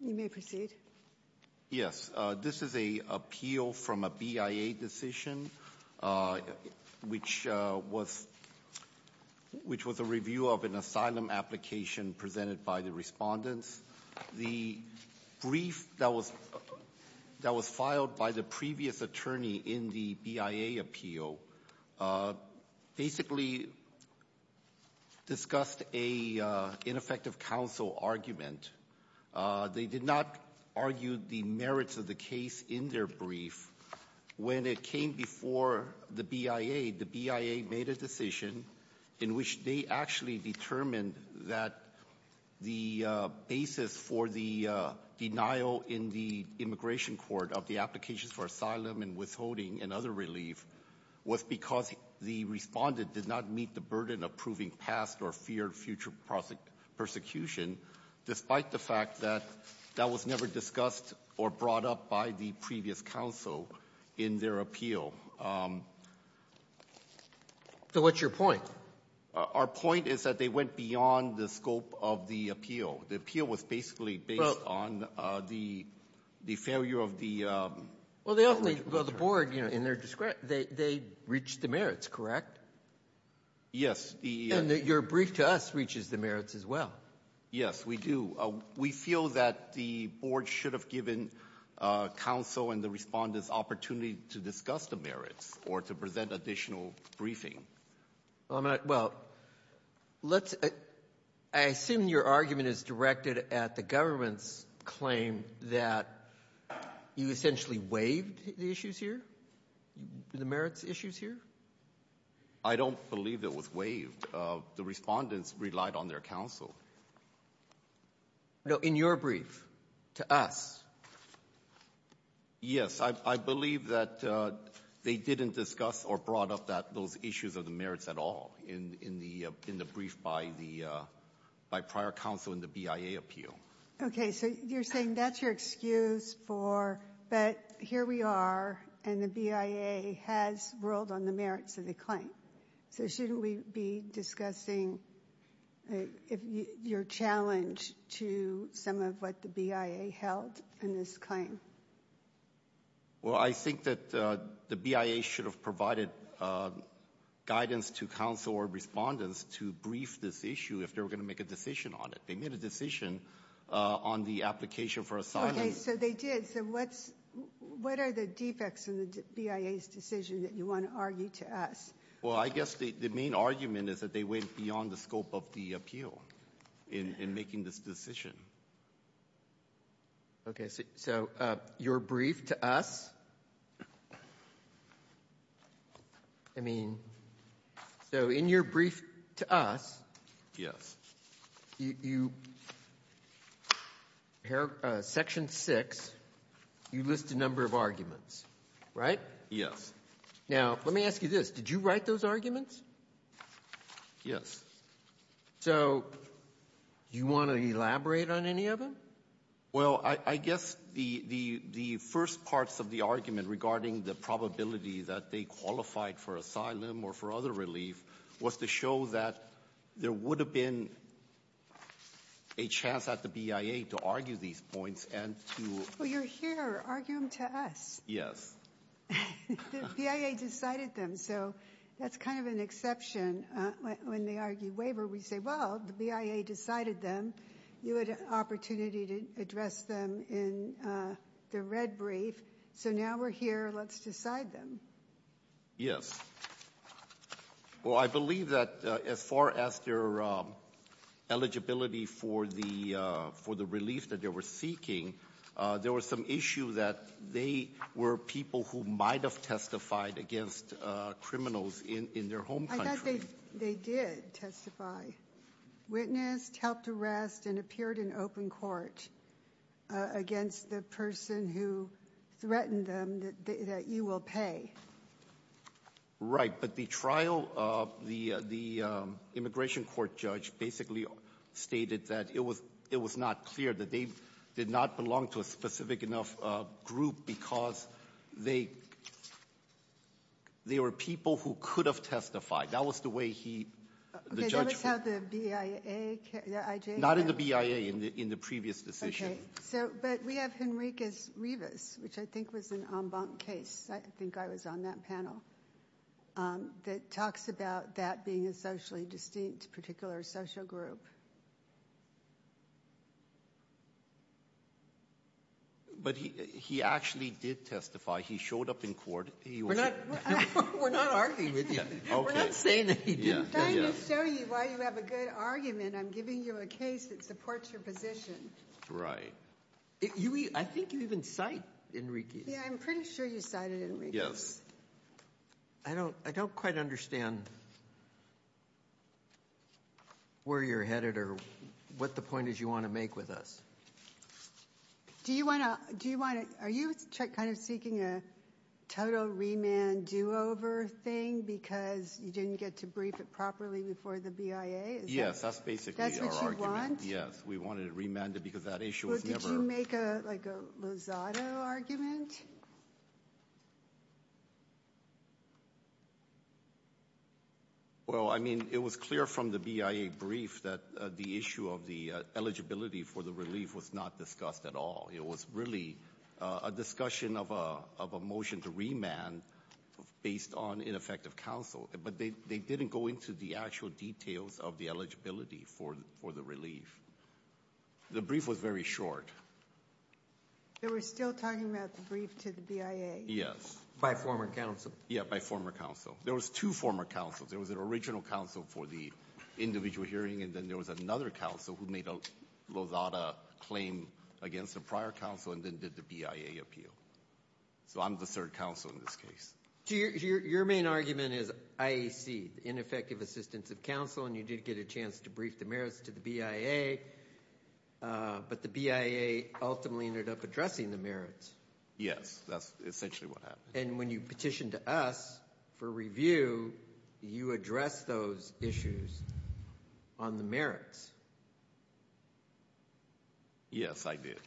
You may proceed. Yes this is a appeal from a BIA decision which was which was a review of an asylum application presented by the respondents. The brief that was that was filed by the previous attorney in the BIA appeal basically discussed a ineffective counsel argument. They did not argue the merits of the case in their brief. When it came before the BIA, the BIA made a decision in which they actually determined that the basis for the denial in the immigration court of the applications for asylum and withholding and other relief was because the respondent did not meet the burden of proving past or feared future prosecution, despite the fact that that was never discussed or brought up by the previous counsel in their appeal. So what's your point? Our point is that they went beyond the scope of the appeal. The appeal was basically based on the failure of the legislature. Well the board, in their discretion, they reached the merits, correct? Yes. And your brief to us reaches the merits as well. Yes, we do. We feel that the board should have given counsel and the respondents opportunity to discuss the merits or to present additional briefing. Well, I assume your argument is directed at the government's claim that you essentially waived the issues here, the merits issues here? I don't believe it was waived. The respondents relied on their counsel. No, in your brief to us. Yes. I believe that they didn't discuss or brought up that those issues of the merits at all in the brief by the prior counsel in the BIA appeal. Okay. So you're saying that's your excuse for, but here we are and the BIA has ruled on the merits of the claim. So shouldn't we be discussing your challenge to some of what the BIA held in this claim? Well, I think that the BIA should have provided guidance to counsel or respondents to brief this issue if they were going to make a decision on it. They made a decision on the application for assignment. Okay. So they did. So what's the defects in the BIA's decision that you want to argue to us? Well, I guess the main argument is that they went beyond the scope of the appeal in making this decision. Okay. So your brief to us, I mean, so in your brief to us. Yes. You here, Section 6, you list a number of arguments, right? Now, let me ask you this. Did you write those arguments? Yes. So do you want to elaborate on any of them? Well, I guess the first parts of the argument regarding the probability that they gave a chance at the BIA to argue these points and to — Well, you're here arguing to us. Yes. The BIA decided them. So that's kind of an exception. When they argue waiver, we say, well, the BIA decided them. You had an opportunity to address them in the red brief. So now we're here. Let's decide them. Yes. Well, I believe that as far as their eligibility for the relief that they were seeking, there was some issue that they were people who might have testified against criminals in their home country. I thought they did testify, witnessed, helped arrest, and appeared in open court against the person who threatened them that you will pay. But the trial, the immigration court judge basically stated that it was not clear, that they did not belong to a specific enough group because they were people who could have testified. That was the way he, the judge — Okay. That was how the BIA, the IJF — Not in the BIA, in the previous decision. Okay. But we have Henriquez-Rivas, which I think was an en banc case. I think I was on that panel. That talks about that being a socially distinct particular social group. But he actually did testify. He showed up in court. We're not arguing with you. We're not saying that he didn't. I'm trying to show you why you have a good argument. I'm giving you a case that supports your position. Right. I think you even cite Henriquez. Yeah. I'm pretty sure you cited Henriquez. I don't quite understand where you're headed or what the point is you want to make with us. Are you kind of seeking a total remand do-over thing because you didn't get to brief it properly before the BIA? Yes. That's basically our argument. That's what you want? Yes. We wanted it remanded because that issue was never — Like a Lozada argument? Well, I mean, it was clear from the BIA brief that the issue of the eligibility for the relief was not discussed at all. It was really a discussion of a motion to remand based on ineffective counsel. But they didn't go into the actual details of the eligibility for the relief. The brief was very short. So we're still talking about the brief to the BIA? By former counsel? Yeah, by former counsel. There was two former counsels. There was an original counsel for the individual hearing, and then there was another counsel who made a Lozada claim against a prior counsel and then did the BIA appeal. So I'm the third counsel in this case. So your main argument is IAC, the ineffective assistance of counsel, and you did get a chance to brief the mayors to the BIA. But the BIA ultimately ended up addressing the merits. Yes, that's essentially what happened. And when you petitioned to us for review, you addressed those issues on the merits. Yes, I did.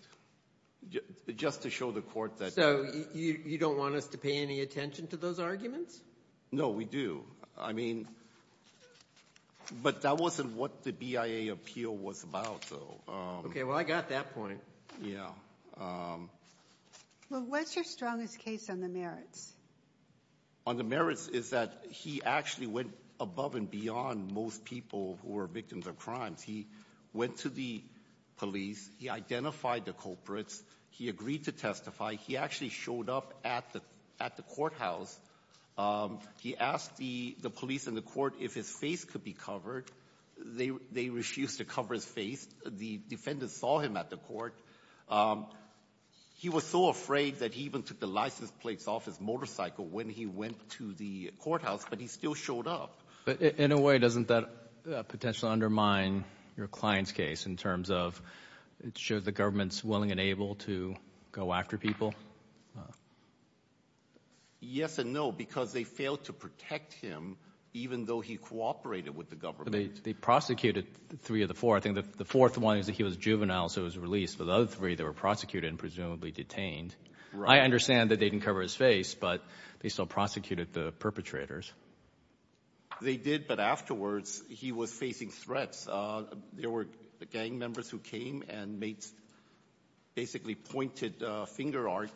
Just to show the court that — So you don't want us to pay any attention to those arguments? No, we do. I mean, but that wasn't what the BIA appeal was about, though. Okay, well, I got that point. Yeah. Well, what's your strongest case on the merits? On the merits is that he actually went above and beyond most people who were victims of crimes. He went to the police. He identified the culprits. He agreed to testify. He actually showed up at the — at the courthouse. He asked the police and the court if his face could be covered. They refused to cover his face. The defendants saw him at the court. He was so afraid that he even took the license plates off his motorcycle when he went to the courthouse, but he still showed up. But in a way, doesn't that potentially undermine your client's case in terms of show the government's willing and able to go after people? No. Yes and no, because they failed to protect him, even though he cooperated with the government. They prosecuted three of the four. I think the fourth one is that he was juvenile, so he was released. But the other three, they were prosecuted and presumably detained. I understand that they didn't cover his face, but they still prosecuted the perpetrators. They did, but afterwards, he was facing threats. There were gang members who came and basically pointed finger art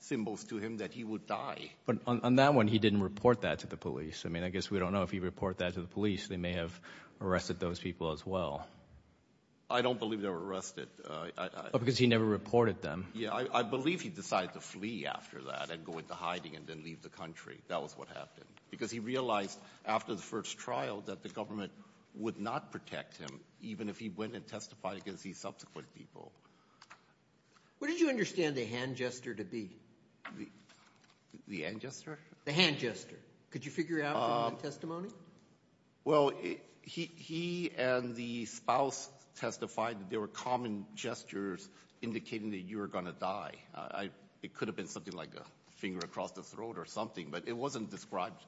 symbols to him that he would die. But on that one, he didn't report that to the police. I mean, I guess we don't know if he reported that to the police. They may have arrested those people as well. I don't believe they were arrested. Because he never reported them. Yeah, I believe he decided to flee after that and go into hiding and then leave the country. That was what happened. Because he realized after the first trial that the government would not protect him, even if he went and testified against these subsequent people. Where did you understand the hand gesture to be? The hand gesture? The hand gesture. Could you figure out from the testimony? Well, he and the spouse testified that there were common gestures indicating that you were going to die. It could have been something like a finger across the throat or something, but it wasn't described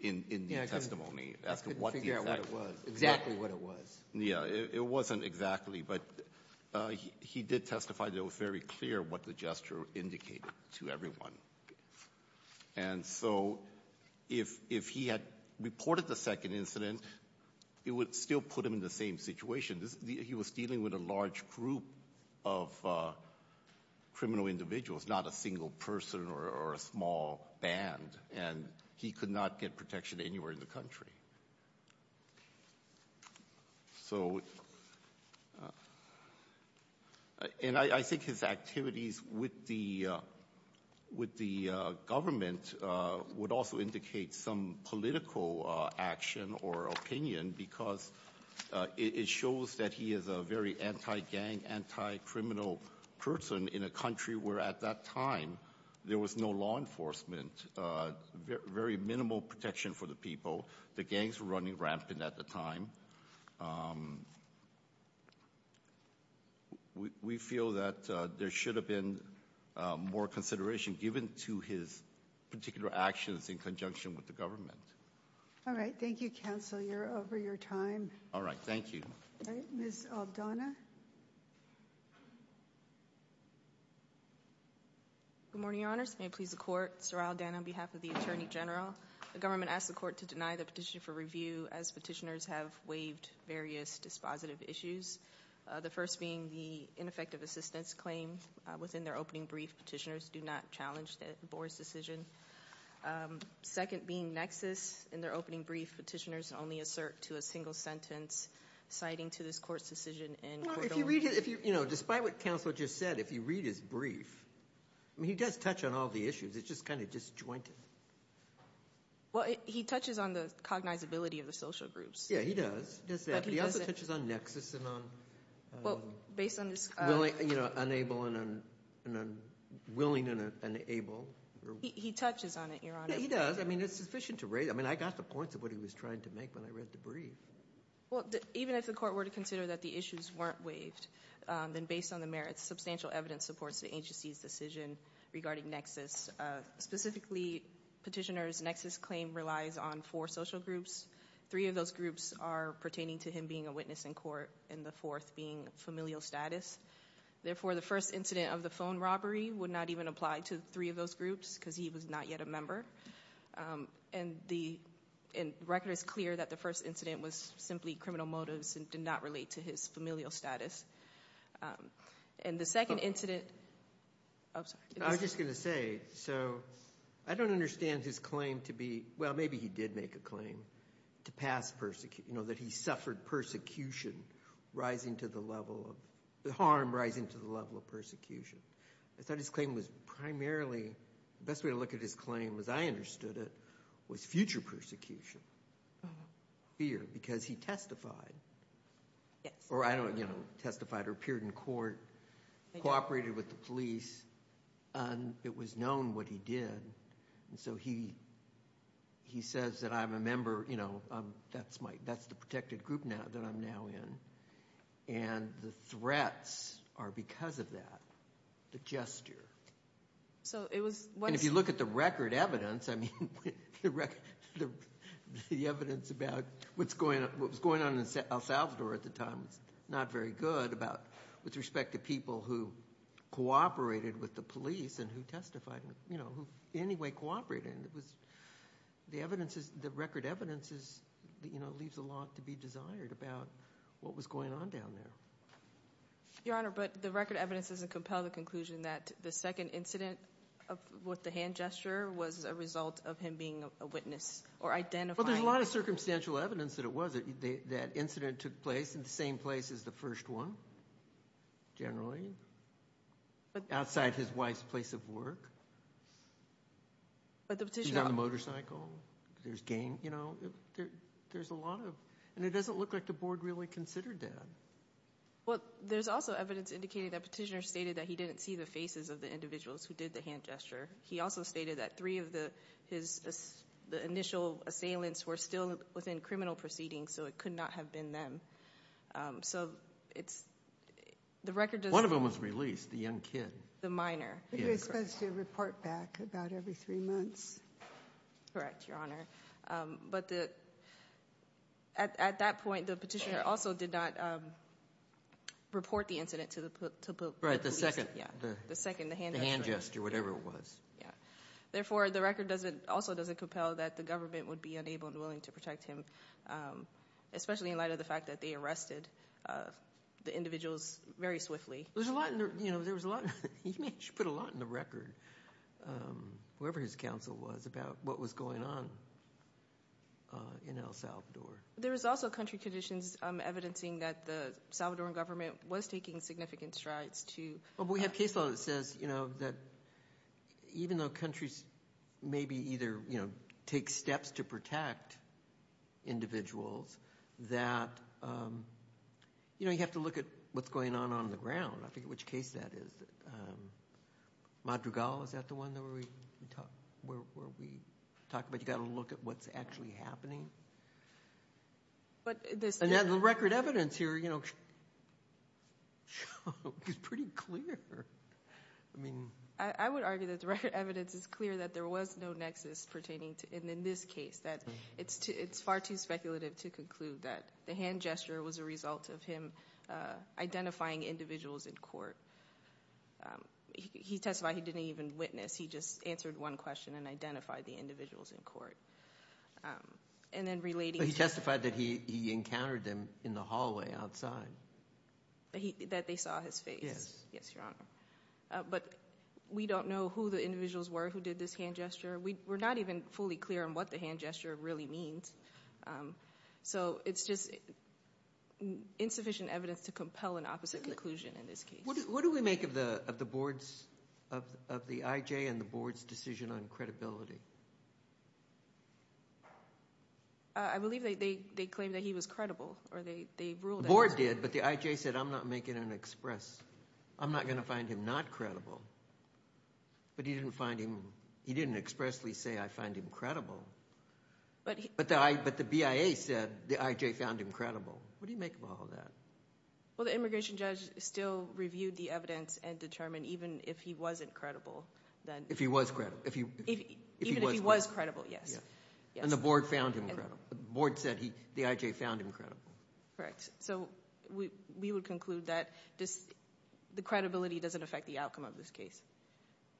in the testimony. Yeah, I couldn't figure out what it was, exactly what it was. Yeah, it wasn't exactly. But he did testify that it was very clear what the gesture indicated to everyone. And so if he had reported the second incident, it would still put him in the same situation. He was dealing with a large group of criminal individuals, not a single person or a small band. And he could not get protection anywhere in the country. So, and I think his activities with the government would also indicate some political action or opinion because it shows that he is a very anti-gang, anti-criminal person in a country where at that time there was no law enforcement, very minimal protection for the people. The gangs were running rampant at the time. We feel that there should have been more consideration given to his particular actions in conjunction with the government. All right. Thank you, counsel. You're over your time. All right. Thank you. All right. Ms. Aldana. Good morning, your honors. May it please the court. Sorrell Aldana on behalf of the attorney general. The government asked the court to deny the petition for review as petitioners have waived various dispositive issues. The first being the ineffective assistance claim within their opening brief. Petitioners do not challenge the board's decision. Second being nexus in their opening brief. Petitioners only assert to a single sentence citing to this court's decision and- Despite what counsel just said, if you read his brief, I mean, he does touch on all the issues. It's just kind of disjointed. Well, he touches on the cognizability of the social groups. Yeah, he does. He does that. But he also touches on nexus and on- Well, based on this- Unable and unwilling and unable. He touches on it, your honor. Yeah, he does. I mean, it's sufficient to raise. I mean, I got the points of what he was trying to make when I read the brief. Well, even if the court were to consider that the issues weren't waived, then based on the merits, substantial evidence supports the agency's decision regarding nexus. Specifically, petitioner's nexus claim relies on four social groups. Three of those groups are pertaining to him being a witness in court and the fourth being familial status. Therefore, the first incident of the phone robbery would not even apply to three of those groups because he was not yet a member. And the record is clear that the first incident was simply criminal motives and did not relate to his familial status. And the second incident- I'm sorry. I was just going to say, so I don't understand his claim to be- Well, maybe he did make a claim to pass persecution, you know, that he suffered persecution rising to the level of- the harm rising to the level of persecution. I thought his claim was primarily- the best way to look at his claim as I understood it was future persecution, fear, because he testified. Yes. Or I don't know, you know, testified or appeared in court, cooperated with the police, and it was known what he did. And so he says that I'm a member, you know, that's my- that's the protected group now that I'm now in. And the threats are because of that, the gesture. So it was- And if you look at the record evidence, I mean, the record- the evidence about what's going on in El Salvador at the time was not very good about- with respect to people who cooperated with the police and who testified, you know, who in any way cooperated. The evidence is- the record evidence is, you know, leaves a lot to be desired about what was going on down there. Your Honor, but the record evidence doesn't compel the conclusion that the second incident with the hand gesture was a result of him being a witness or identifying- Well, there's a lot of circumstantial evidence that it was. That incident took place in the same place as the first one, generally, outside his wife's place of work. But the petitioner- She's on the motorcycle. There's gang, you know, there's a lot of- and it doesn't look like the board really considered that. Well, there's also evidence indicating that petitioner stated that he didn't see the faces of the individuals who did the hand gesture. He also stated that three of the- his- the initial assailants were still within criminal proceedings, so it could not have been them. So it's- the record just- One of them was released, the young kid. The minor. He was supposed to report back about every three months. Correct, Your Honor. But the- at that point, the petitioner also did not report the incident to the police. Right, the second- Yeah, the second, the hand gesture. The hand gesture, whatever it was. Yeah. Therefore, the record doesn't- also doesn't compel that the government would be unable and willing to protect him, especially in light of the fact that they arrested the individuals very swiftly. There's a lot in the- you know, there was a lot- he actually put a lot in the record, whoever his counsel was, about what was going on in El Salvador. There was also country conditions evidencing that the Salvadoran government was taking significant strides to- Well, but we have case law that says, you know, that even though countries maybe either, you know, take steps to protect individuals, that, you know, you have to look at what's going on on the ground. I forget which case that is. Madrugal, is that the one that we talked about? You've got to look at what's actually happening. But there's- The record evidence here, you know, is pretty clear. I mean- I would argue that the record evidence is clear that there was no nexus pertaining to- and in this case, that it's far too speculative to conclude that the hand gesture was a result of him identifying individuals in court. He testified he didn't even witness. He just answered one question and identified the individuals in court. And then relating- He testified that he encountered them in the hallway outside. That they saw his face. Yes. Yes, Your Honor. But we don't know who the individuals were who did this hand gesture. We're not even fully clear on what the hand gesture really means. So it's just insufficient evidence to compel an opposite conclusion in this case. What do we make of the board's- of the IJ and the board's decision on credibility? I believe they claimed that he was credible or they ruled that- The board did, but the IJ said, I'm not making an express- I'm not going to find him not credible. But he didn't find him- he didn't expressly say, I find him credible. But the BIA said the IJ found him credible. What do you make of all that? Well, the immigration judge still reviewed the evidence and determined even if he wasn't credible, then- If he was credible. If he- Even if he was credible, yes. And the board found him credible. The board said the IJ found him credible. Correct. So we would conclude that the credibility doesn't affect the outcome of this case.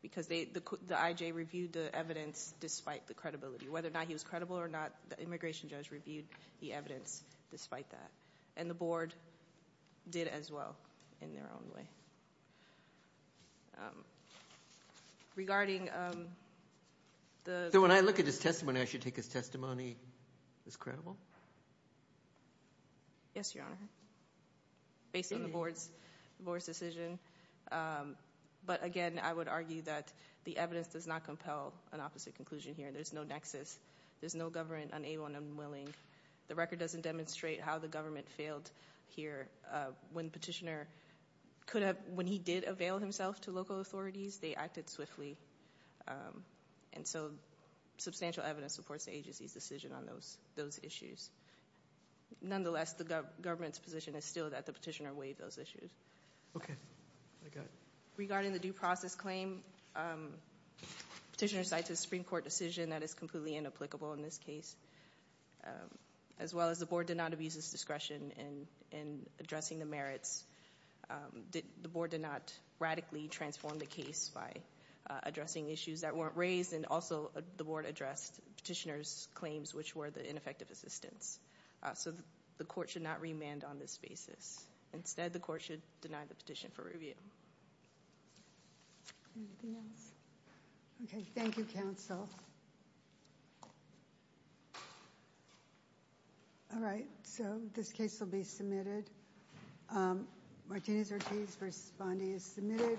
Because the IJ reviewed the evidence despite the credibility. Whether or not he was credible or not, the immigration judge reviewed the evidence despite that. And the board did as well in their own way. Regarding the- So when I look at his testimony, I should take his testimony as credible? Yes, Your Honor. Based on the board's decision. But again, I would argue that the evidence does not compel an opposite conclusion here. There's no nexus. There's no government unable and unwilling. The record doesn't demonstrate how the government failed here. When petitioner could have- When he did avail himself to local authorities, they acted swiftly. And so substantial evidence supports the agency's decision on those issues. Nonetheless, the government's position is still that the petitioner waived those issues. Okay, I got it. Regarding the due process claim, petitioner cites a Supreme Court decision that is completely inapplicable in this case. As well as the board did not abuse its discretion in addressing the merits, the board did not radically transform the case by addressing issues that weren't raised. And also, the board addressed petitioner's claims, which were the ineffective assistance. So the court should not remand on this basis. Instead, the court should deny the petition for review. Anything else? Okay, thank you, counsel. All right, so this case will be submitted. Martinez-Ortiz v. Bondi is submitted.